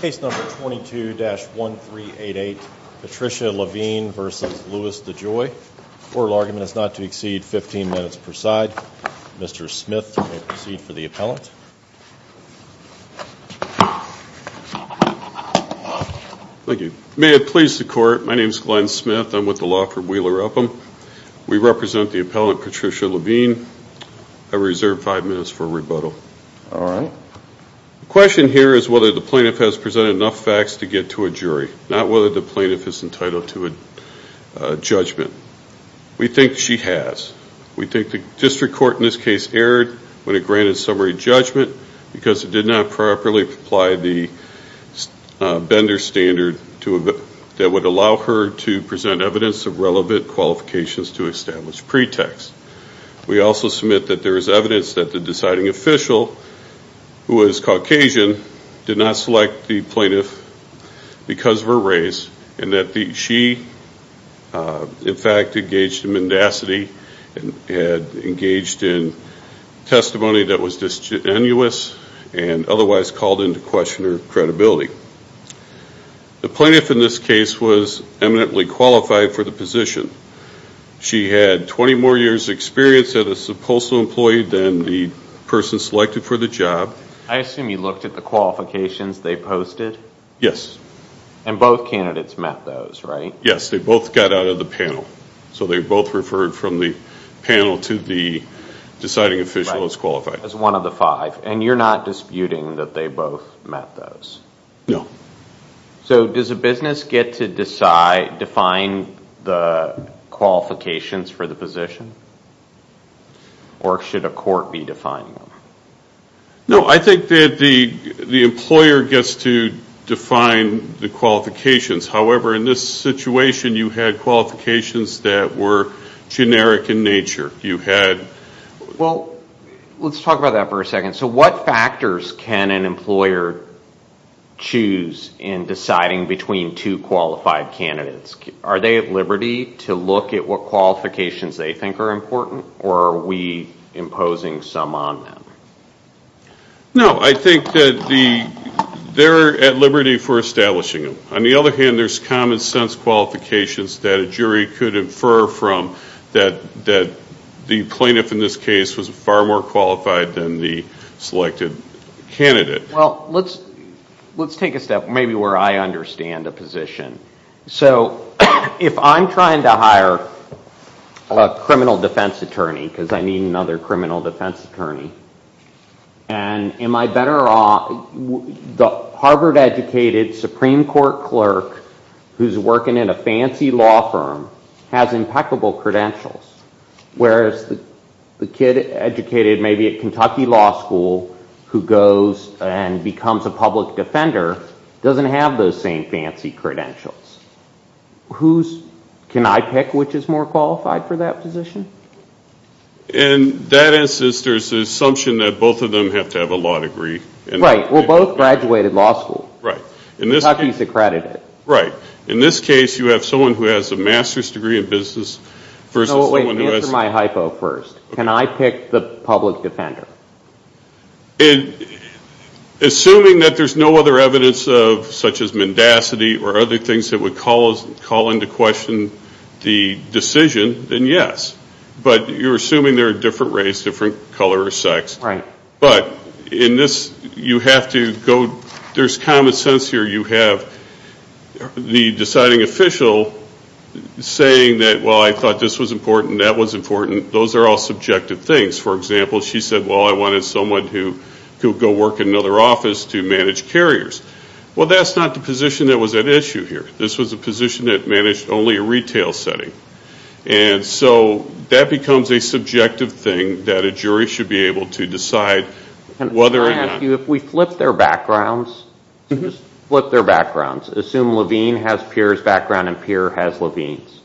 Case number 22-1388, Patricia Levine v. Louis DeJoy. Court argument is not to exceed 15 minutes per side. Mr. Smith, you may proceed for the appellant. Thank you. May it please the Court, my name is Glenn Smith. I'm with the law firm Wheeler Upham. We represent the appellant Patricia Levine. I reserve five minutes for rebuttal. All right. The question here is whether the plaintiff has presented enough facts to get to a jury, not whether the plaintiff is entitled to a judgment. We think she has. We think the district court in this case erred when it granted summary judgment because it did not properly apply the Bender standard that would allow her to present evidence of relevant qualifications to establish pretext. We also submit that there is evidence that the deciding official, who is Caucasian, did not select the plaintiff because of her race and that she, in fact, engaged in mendacity and had engaged in testimony that was disgenuous and otherwise called into question her credibility. The plaintiff in this case was eminently qualified for the position. She had 20 more years' experience as a postal employee than the person selected for the job. I assume you looked at the qualifications they posted? Yes. And both candidates met those, right? Yes, they both got out of the panel. So they both referred from the panel to the deciding official as qualified. As one of the five. And you're not disputing that they both met those? No. So does a business get to define the qualifications for the position? Or should a court be defining them? No, I think that the employer gets to define the qualifications. However, in this situation, you had qualifications that were generic in nature. Well, let's talk about that for a second. So what factors can an employer choose in deciding between two qualified candidates? Are they at liberty to look at what qualifications they think are important? Or are we imposing some on them? No, I think that they're at liberty for establishing them. On the other hand, there's common-sense qualifications that a jury could infer from that the plaintiff in this case was far more qualified than the selected candidate. Well, let's take a step maybe where I understand a position. So if I'm trying to hire a criminal defense attorney, because I need another criminal defense attorney, and am I better off the Harvard-educated Supreme Court clerk who's working in a fancy law firm has impeccable credentials, whereas the kid educated maybe at Kentucky Law School who goes and becomes a public defender doesn't have those same fancy credentials. Can I pick which is more qualified for that position? And that is there's the assumption that both of them have to have a law degree. Right. Well, both graduated law school. Right. Kentucky's accredited. Right. In this case, you have someone who has a master's degree in business versus someone who has No, wait. Answer my hypo first. Can I pick the public defender? Assuming that there's no other evidence such as mendacity or other things that would call into question the decision, then yes. But you're assuming they're a different race, different color or sex. Right. But in this, you have to go, there's common sense here. You have the deciding official saying that, well, I thought this was important, that was important. Those are all subjective things. For example, she said, well, I wanted someone who could go work in another office to manage carriers. Well, that's not the position that was at issue here. This was a position that managed only a retail setting. And so that becomes a subjective thing that a jury should be able to decide whether or not Can I ask you, if we flip their backgrounds, just flip their backgrounds. Assume Levine has Pierre's background and Pierre has Levine's.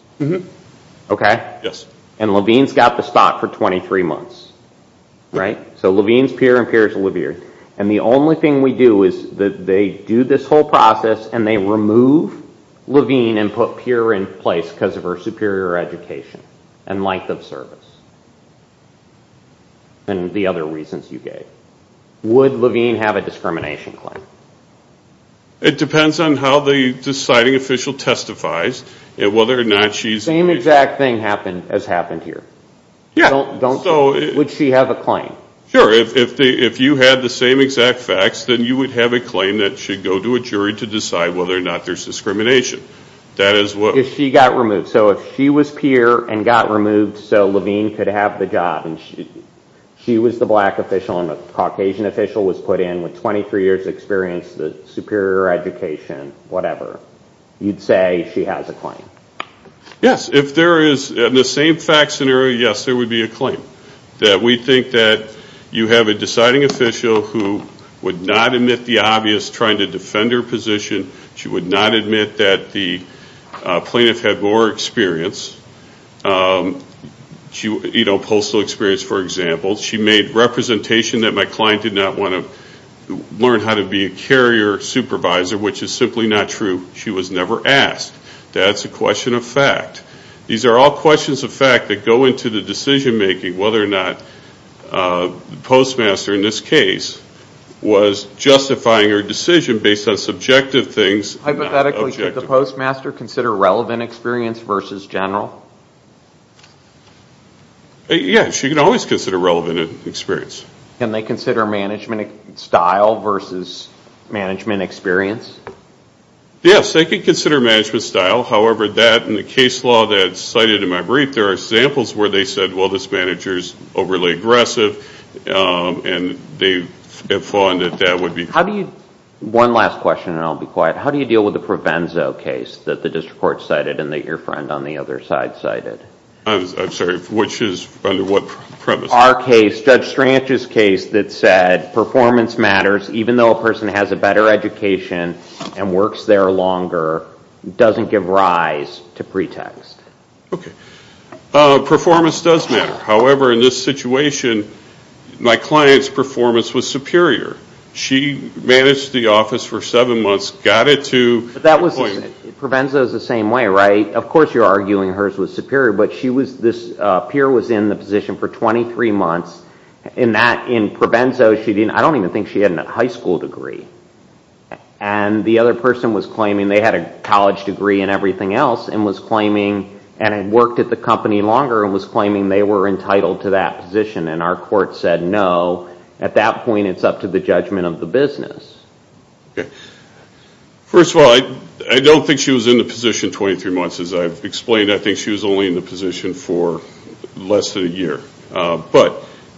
Okay. Yes. And Levine's got the stock for 23 months. Right. So Levine's Pierre and Pierre's Olivier. And the only thing we do is they do this whole process and they remove Levine and put Pierre in place because of her superior education and length of service and the other reasons you gave. Would Levine have a discrimination claim? It depends on how the deciding official testifies and whether or not she's The same exact thing has happened here. Would she have a claim? Sure. If you had the same exact facts, then you would have a claim that should go to a jury to decide whether or not there's discrimination. If she got removed. So if she was Pierre and got removed so Levine could have the job and she was the black official and a Caucasian official was put in with 23 years experience, superior education, whatever, you'd say she has a claim. Yes. If there is the same fact scenario, yes, there would be a claim. We think that you have a deciding official who would not admit the obvious, trying to defend her position. She would not admit that the plaintiff had more experience, you know, postal experience, for example. She made representation that my client did not want to learn how to be a carrier supervisor, which is simply not true. She was never asked. That's a question of fact. These are all questions of fact that go into the decision-making, whether or not the postmaster in this case was justifying her decision based on subjective things. Hypothetically, should the postmaster consider relevant experience versus general? Yes. She can always consider relevant experience. Can they consider management style versus management experience? Yes. They can consider management style. However, that and the case law that's cited in my brief, there are examples where they said, well, this manager is overly aggressive, and they have found that that would be. One last question, and I'll be quiet. How do you deal with the Provenzo case that the district court cited and that your friend on the other side cited? I'm sorry. Which is under what premise? Our case, Judge Strange's case that said performance matters even though a person has a better education and works there longer doesn't give rise to pretext. Okay. Performance does matter. However, in this situation, my client's performance was superior. She managed the office for seven months, got it to appointment. Provenzo is the same way, right? Of course you're arguing hers was superior, but this peer was in the position for 23 months. In Provenzo, I don't even think she had a high school degree. The other person was claiming they had a college degree and everything else and was claiming and had worked at the company longer and was claiming they were entitled to that position. Our court said no. At that point, it's up to the judgment of the business. First of all, I don't think she was in the position 23 months. As I've explained, I think she was only in the position for less than a year. But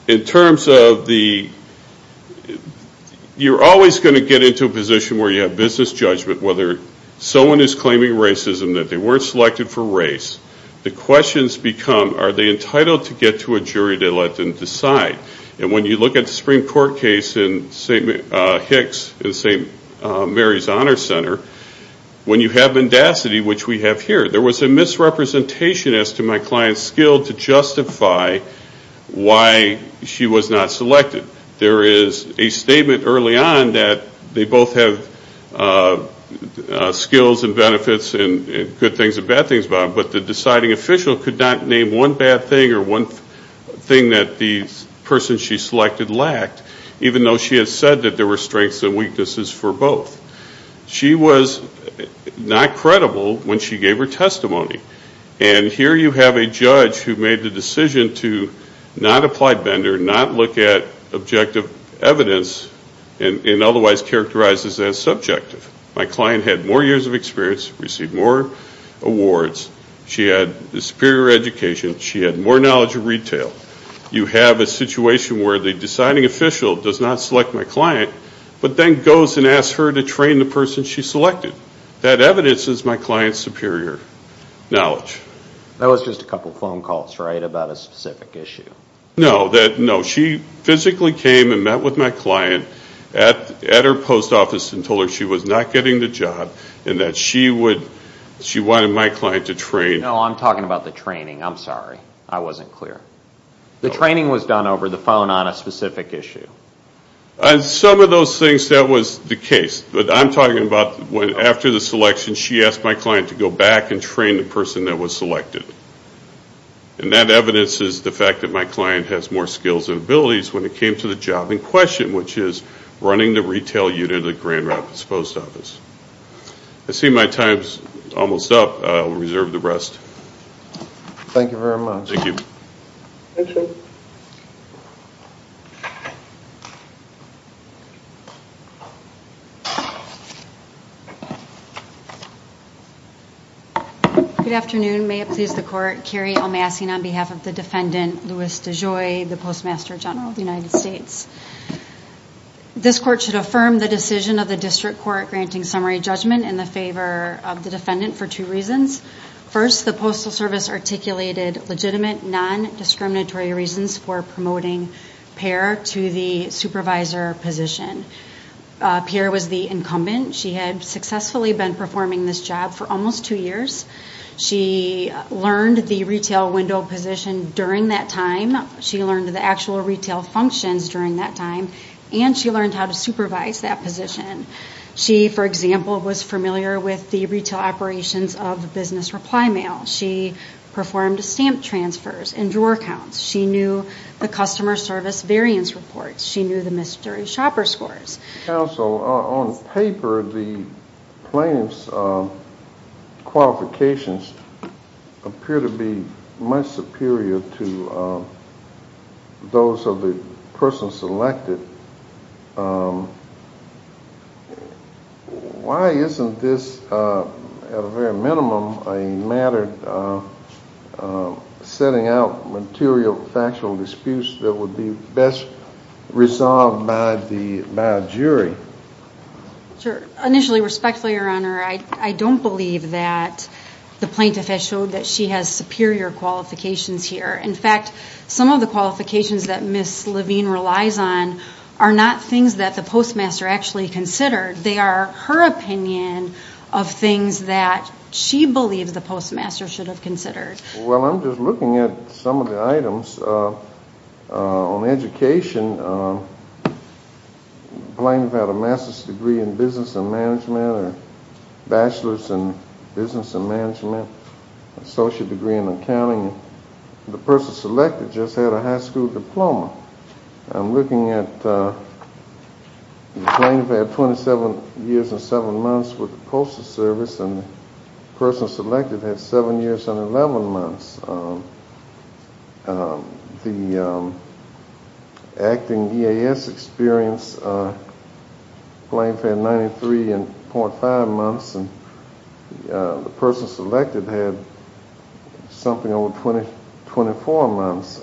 in terms of the—you're always going to get into a position where you have business judgment, whether someone is claiming racism, that they weren't selected for race. The questions become are they entitled to get to a jury to let them decide? And when you look at the Supreme Court case in Hicks and St. Mary's Honor Center, when you have mendacity, which we have here, there was a misrepresentation as to my client's skill to justify why she was not selected. There is a statement early on that they both have skills and benefits and good things and bad things about them, but the deciding official could not name one bad thing or one thing that the person she selected lacked, even though she had said that there were strengths and weaknesses for both. She was not credible when she gave her testimony. And here you have a judge who made the decision to not apply Bender, not look at objective evidence and otherwise characterize as subjective. My client had more years of experience, received more awards. She had a superior education. She had more knowledge of retail. You have a situation where the deciding official does not select my client, but then goes and asks her to train the person she selected. That evidence is my client's superior knowledge. That was just a couple phone calls, right, about a specific issue? No. She physically came and met with my client at her post office and told her she was not getting the job and that she wanted my client to train. No, I'm talking about the training. I'm sorry. I wasn't clear. The training was done over the phone on a specific issue. On some of those things, that was the case. But I'm talking about after the selection, she asked my client to go back and train the person that was selected. And that evidence is the fact that my client has more skills and abilities when it came to the job in question, which is running the retail unit at Grand Rapids Post Office. I see my time's almost up. Thank you very much. Thank you. Thank you. Good afternoon. May it please the Court, Carrie O'Massey on behalf of the defendant, Louis DeJoy, the Postmaster General of the United States. This Court should affirm the decision of the District Court granting summary judgment in the favor of the defendant for two reasons. First, the Postal Service articulated legitimate, non-discriminatory reasons for promoting Pear to the supervisor position. Pear was the incumbent. She had successfully been performing this job for almost two years. She learned the retail window position during that time. She learned the actual retail functions during that time, and she learned how to supervise that position. She, for example, was familiar with the retail operations of the business reply mail. She performed stamp transfers and drawer counts. She knew the customer service variance reports. She knew the mystery shopper scores. Counsel, on paper, the plaintiff's qualifications appear to be much superior to those of the person selected. Why isn't this, at a very minimum, a matter of setting out material factual disputes that would be best resolved by a jury? Initially, respectfully, Your Honor, I don't believe that the plaintiff has showed that she has superior qualifications here. In fact, some of the qualifications that Ms. Levine relies on are not things that the postmaster actually considered. They are her opinion of things that she believes the postmaster should have considered. Well, I'm just looking at some of the items on education. The plaintiff had a master's degree in business and management, a bachelor's in business and management, an associate degree in accounting, and the person selected just had a high school diploma. I'm looking at the plaintiff had 27 years and 7 months with the postal service, and the person selected had 7 years and 11 months. The acting EAS experience, the plaintiff had 93.5 months, and the person selected had something over 24 months.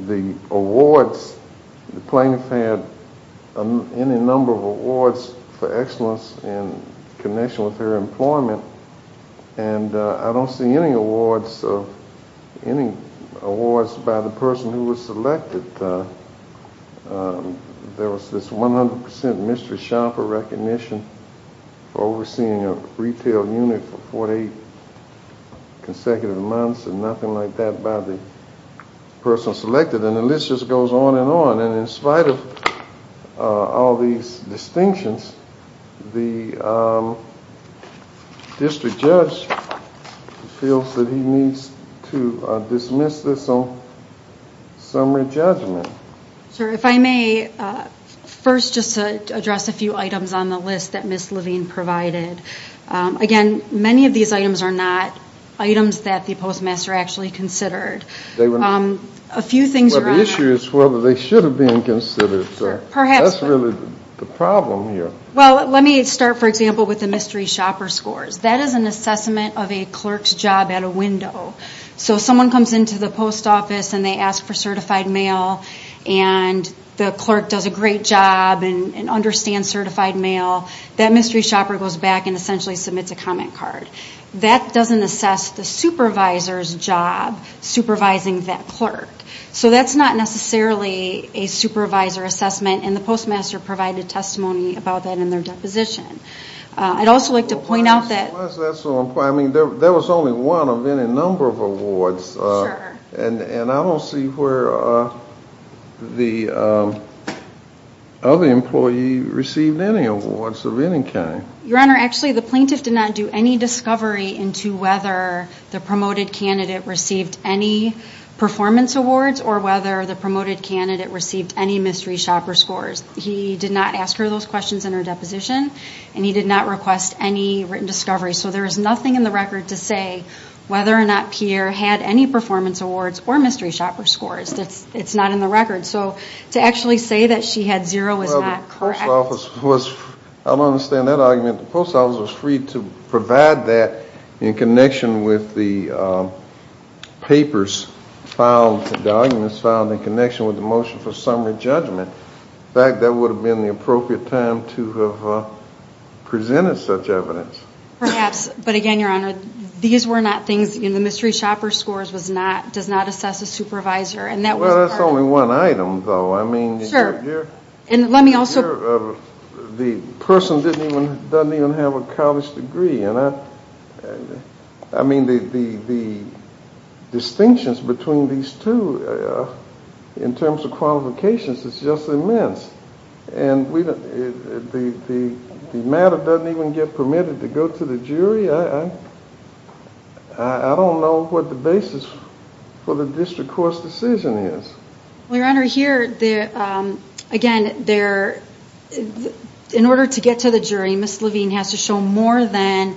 The awards, the plaintiff had any number of awards for excellence in connection with her employment, and I don't see any awards by the person who was selected. There was this 100% mystery shopper recognition for overseeing a retail unit for 48 consecutive months, and nothing like that by the person selected, and the list just goes on and on. In spite of all these distinctions, the district judge feels that he needs to dismiss this on summary judgment. Sir, if I may, first just to address a few items on the list that Ms. Levine provided. Again, many of these items are not items that the postmaster actually considered. They were not. A few things are on there. Well, the issue is whether they should have been considered, sir. Perhaps. That's really the problem here. Well, let me start, for example, with the mystery shopper scores. That is an assessment of a clerk's job at a window. So if someone comes into the post office and they ask for certified mail and the clerk does a great job and understands certified mail, that mystery shopper goes back and essentially submits a comment card. That doesn't assess the supervisor's job supervising that clerk. So that's not necessarily a supervisor assessment, and the postmaster provided testimony about that in their deposition. I'd also like to point out that. Why is that so important? I mean, there was only one of any number of awards. Sure. And I don't see where the other employee received any awards of any kind. Your Honor, actually the plaintiff did not do any discovery into whether the promoted candidate received any performance awards or whether the promoted candidate received any mystery shopper scores. He did not ask her those questions in her deposition, and he did not request any written discovery. So there is nothing in the record to say whether or not Pierre had any performance awards or mystery shopper scores. It's not in the record. So to actually say that she had zero is not correct. I don't understand that argument. The post office was free to provide that in connection with the papers found, the arguments found in connection with the motion for summary judgment. In fact, that would have been the appropriate time to have presented such evidence. Perhaps. But again, Your Honor, these were not things. The mystery shopper scores does not assess a supervisor, and that was part of it. Well, that's only one item, though. Sure. I mean, the person doesn't even have a college degree. I mean, the distinctions between these two in terms of qualifications is just immense, and the matter doesn't even get permitted to go to the jury. I don't know what the basis for the district court's decision is. Well, Your Honor, here, again, in order to get to the jury, Ms. Levine has to show more than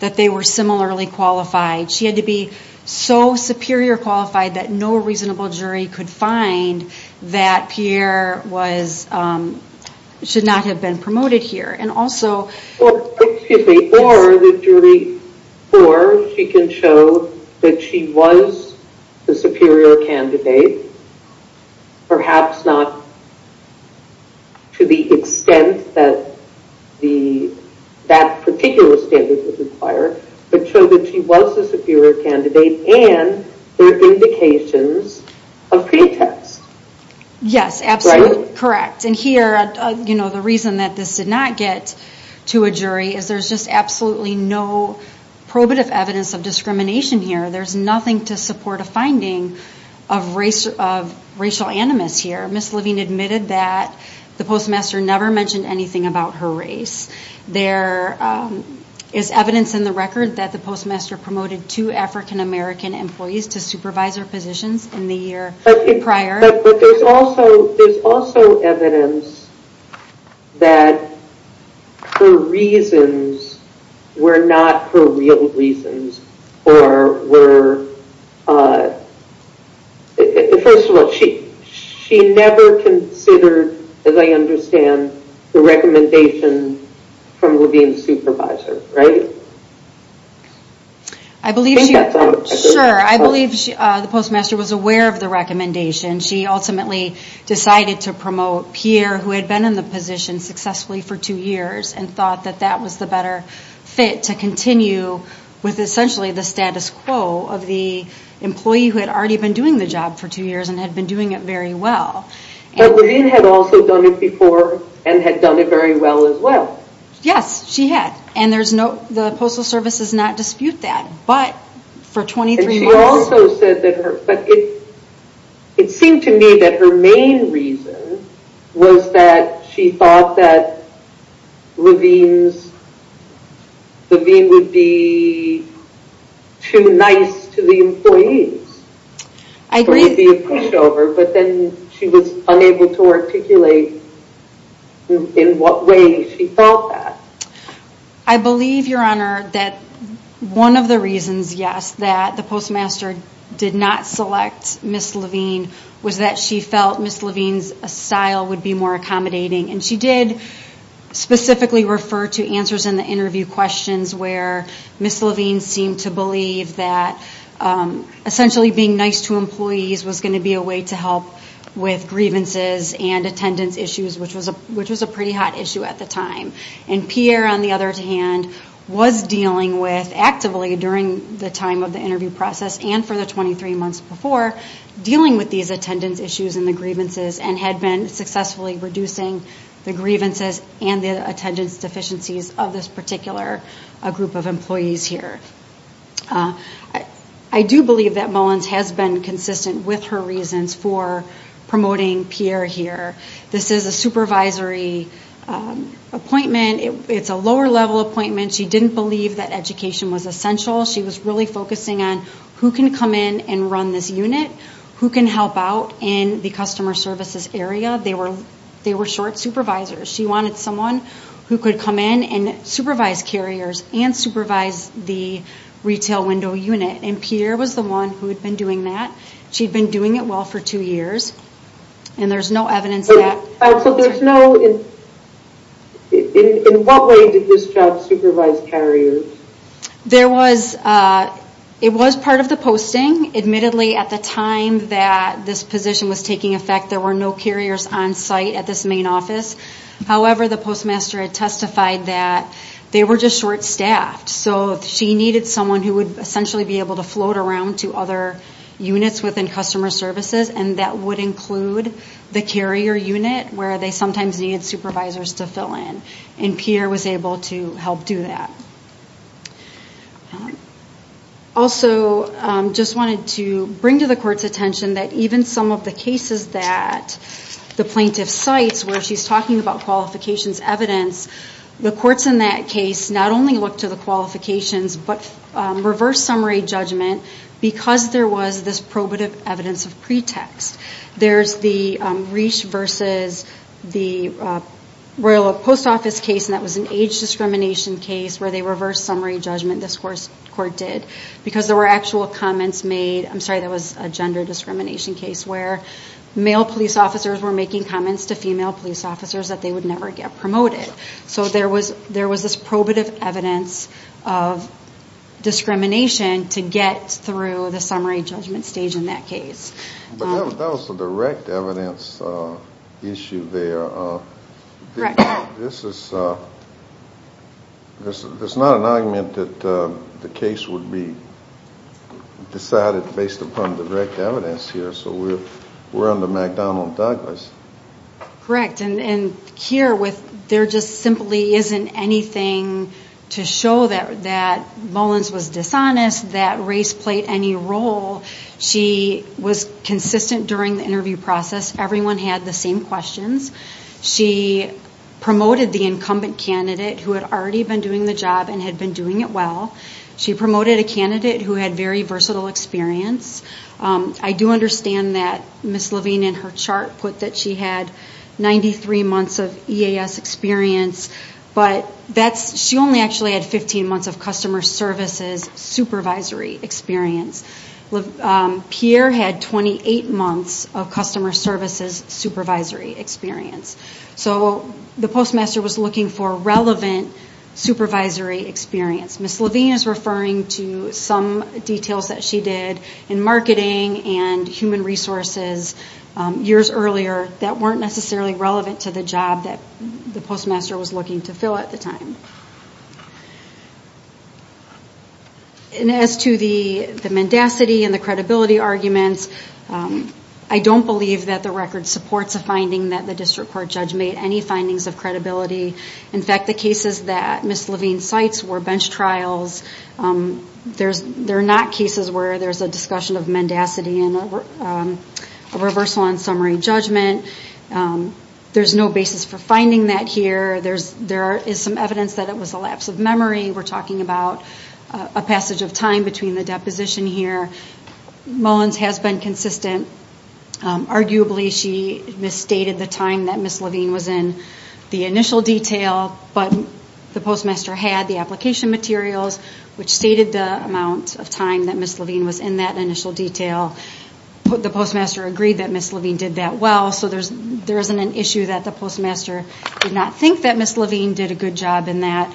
that they were similarly qualified. She had to be so superior qualified that no reasonable jury could find that Pierre should not have been promoted here. Excuse me. Or the jury can show that she was the superior candidate, perhaps not to the extent that that particular standard would require, but show that she was the superior candidate and there are indications of pretext. Yes, absolutely correct. And here, you know, the reason that this did not get to a jury is there's just absolutely no probative evidence of discrimination here. There's nothing to support a finding of racial animus here. Ms. Levine admitted that the postmaster never mentioned anything about her race. There is evidence in the record that the postmaster promoted two African American employees to supervisor positions in the year prior. But there's also evidence that her reasons were not her real reasons, or were, first of all, she never considered, as I understand, the recommendation from Levine's supervisor, right? I believe she, sure, I believe the postmaster was aware of the recommendation. She ultimately decided to promote Pierre, who had been in the position successfully for two years, and thought that that was the better fit to continue with, essentially, the status quo of the employee who had already been doing the job for two years and had been doing it very well. But Levine had also done it before and had done it very well as well. Yes, she had. And there's no, the Postal Service does not dispute that, but for 23 months. And she also said that her, but it seemed to me that her main reason was that she thought that Levine's, Levine would be too nice to the employees. I agree. There would be a pushover, but then she was unable to articulate in what way she thought that. I believe, Your Honor, that one of the reasons, yes, that the postmaster did not select Ms. Levine was that she felt Ms. Levine's style would be more accommodating. And she did specifically refer to answers in the interview questions where Ms. Levine seemed to believe that essentially being nice to employees was going to be a way to help with grievances and attendance issues, which was a pretty hot issue at the time. And Pierre, on the other hand, was dealing with, actively during the time of the interview process and for the 23 months before, dealing with these attendance issues and the grievances and had been successfully reducing the grievances and the attendance deficiencies of this particular group of employees here. I do believe that Mullins has been consistent with her reasons for promoting Pierre here. This is a supervisory appointment. It's a lower-level appointment. She didn't believe that education was essential. She was really focusing on who can come in and run this unit, who can help out in the customer services area. They were short supervisors. She wanted someone who could come in and supervise carriers and supervise the retail window unit, and Pierre was the one who had been doing that. She'd been doing it well for two years, and there's no evidence that— So there's no—in what way did this job supervise carriers? There was—it was part of the posting. Admittedly, at the time that this position was taking effect, there were no carriers on-site at this main office. However, the postmaster had testified that they were just short-staffed, so she needed someone who would essentially be able to float around to other units within customer services, and that would include the carrier unit where they sometimes needed supervisors to fill in, and Pierre was able to help do that. Also, just wanted to bring to the court's attention that even some of the cases that the plaintiff cites where she's talking about qualifications evidence, the courts in that case not only look to the qualifications but reverse summary judgment because there was this probative evidence of pretext. There's the Reese versus the Royal Post Office case, and that was an age discrimination case where they reversed summary judgment, this court did, because there were actual comments made—I'm sorry, that was a gender discrimination case— male police officers were making comments to female police officers that they would never get promoted. So there was this probative evidence of discrimination to get through the summary judgment stage in that case. But that was a direct evidence issue there. This is not an argument that the case would be decided based upon direct evidence here, so we're under McDonald-Douglas. Correct, and here there just simply isn't anything to show that Mullins was dishonest, that Reese played any role. She was consistent during the interview process. Everyone had the same questions. She promoted the incumbent candidate who had already been doing the job and had been doing it well. She promoted a candidate who had very versatile experience. I do understand that Ms. Levine in her chart put that she had 93 months of EAS experience, but she only actually had 15 months of customer services supervisory experience. Pierre had 28 months of customer services supervisory experience. So the postmaster was looking for relevant supervisory experience. Ms. Levine is referring to some details that she did in marketing and human resources years earlier that weren't necessarily relevant to the job that the postmaster was looking to fill at the time. And as to the mendacity and the credibility arguments, I don't believe that the record supports a finding that the district court judge made any findings of credibility. In fact, the cases that Ms. Levine cites were bench trials. They're not cases where there's a discussion of mendacity and a reversal on summary judgment. There's no basis for finding that here. There is some evidence that it was a lapse of memory. We're talking about a passage of time between the deposition here. Mullins has been consistent. Arguably, she misstated the time that Ms. Levine was in the initial detail, but the postmaster had the application materials, which stated the amount of time that Ms. Levine was in that initial detail. The postmaster agreed that Ms. Levine did that well, so there isn't an issue that the postmaster did not think that Ms. Levine did a good job in that,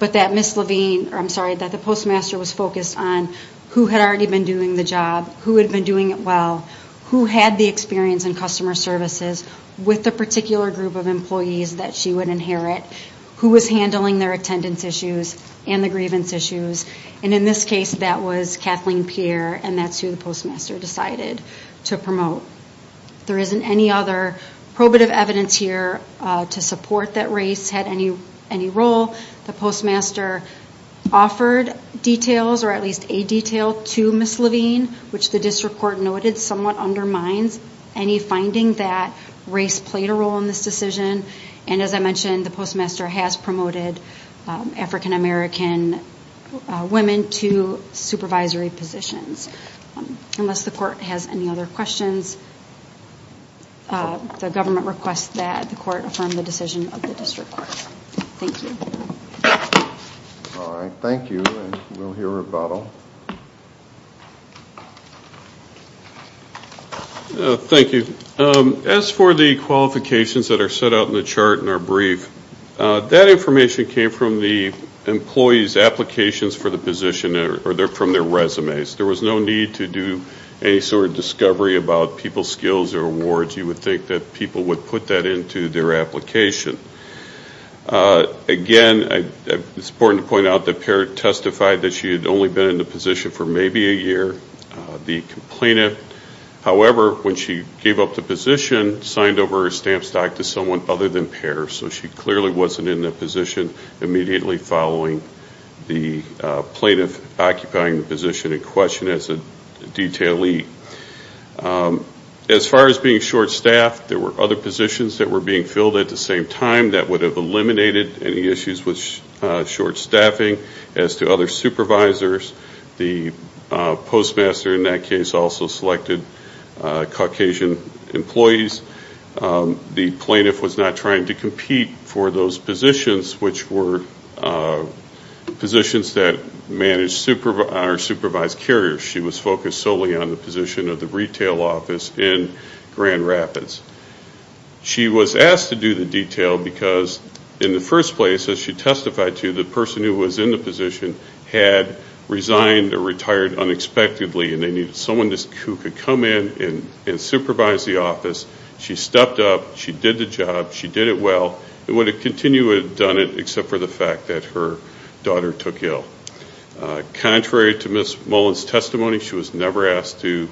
but that Ms. Levine or I'm sorry, that the postmaster was focused on who had already been doing the job, who had been doing it well, who had the experience in customer services with the particular group of employees that she would inherit, who was handling their attendance issues and the grievance issues. In this case, that was Kathleen Pierre, and that's who the postmaster decided to promote. There isn't any other probative evidence here to support that race had any role. The postmaster offered details or at least a detail to Ms. Levine, which the district court noted somewhat undermines any finding that race played a role in this decision. And as I mentioned, the postmaster has promoted African-American women to supervisory positions. Unless the court has any other questions, the government requests that the court affirm the decision of the district court. Thank you. All right, thank you. We'll hear rebuttal. Thank you. As for the qualifications that are set out in the chart in our brief, that information came from the employee's applications for the position or from their resumes. There was no need to do any sort of discovery about people's skills or awards. You would think that people would put that into their application. Again, it's important to point out that Pierre testified that she had only been in the position for maybe a year, the complainant. However, when she gave up the position, signed over her stamp stock to someone other than Pierre, so she clearly wasn't in the position immediately following the plaintiff occupying the position in question as a detailee. As far as being short-staffed, there were other positions that were being filled at the same time. That would have eliminated any issues with short-staffing. As to other supervisors, the postmaster in that case also selected Caucasian employees. The plaintiff was not trying to compete for those positions, which were positions that are supervised carriers. She was focused solely on the position of the retail office in Grand Rapids. She was asked to do the detail because, in the first place, as she testified to, the person who was in the position had resigned or retired unexpectedly, and they needed someone who could come in and supervise the office. She stepped up. She did the job. She did it well. It would have continued, would have done it, except for the fact that her daughter took ill. Contrary to Ms. Mullins' testimony, she was never asked to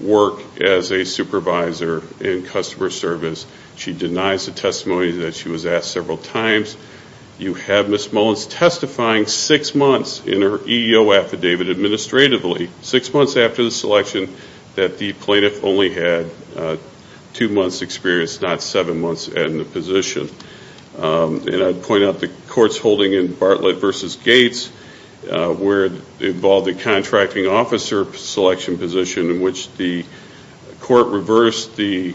work as a supervisor in customer service. She denies the testimony that she was asked several times. You have Ms. Mullins testifying six months in her EEO affidavit administratively, six months after the selection, that the plaintiff only had two months' experience, not seven months in the position. And I'd point out the court's holding in Bartlett v. Gates, where it involved the contracting officer selection position, in which the court reversed the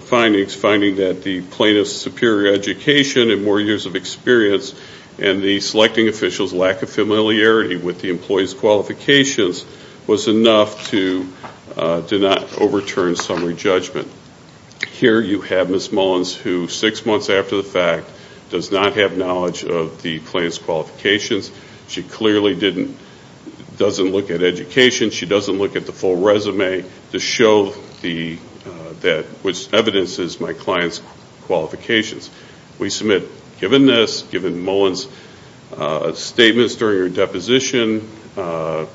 findings, finding that the plaintiff's superior education and more years of experience and the selecting official's lack of familiarity with the employee's qualifications was enough to not overturn summary judgment. Here you have Ms. Mullins who, six months after the fact, does not have knowledge of the plaintiff's qualifications. She clearly doesn't look at education. She doesn't look at the full resume to show which evidence is my client's qualifications. We submit, given this, given Mullins' statements during her deposition and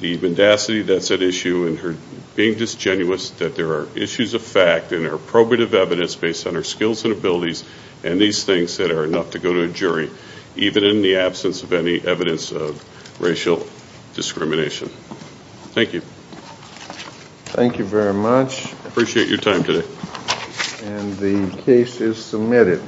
the mendacity that's at issue and her being disgenuous, that there are issues of fact and there are probative evidence based on her skills and abilities and these things that are enough to go to a jury, even in the absence of any evidence of racial discrimination. Thank you. Thank you very much. I appreciate your time today. And the case is submitted.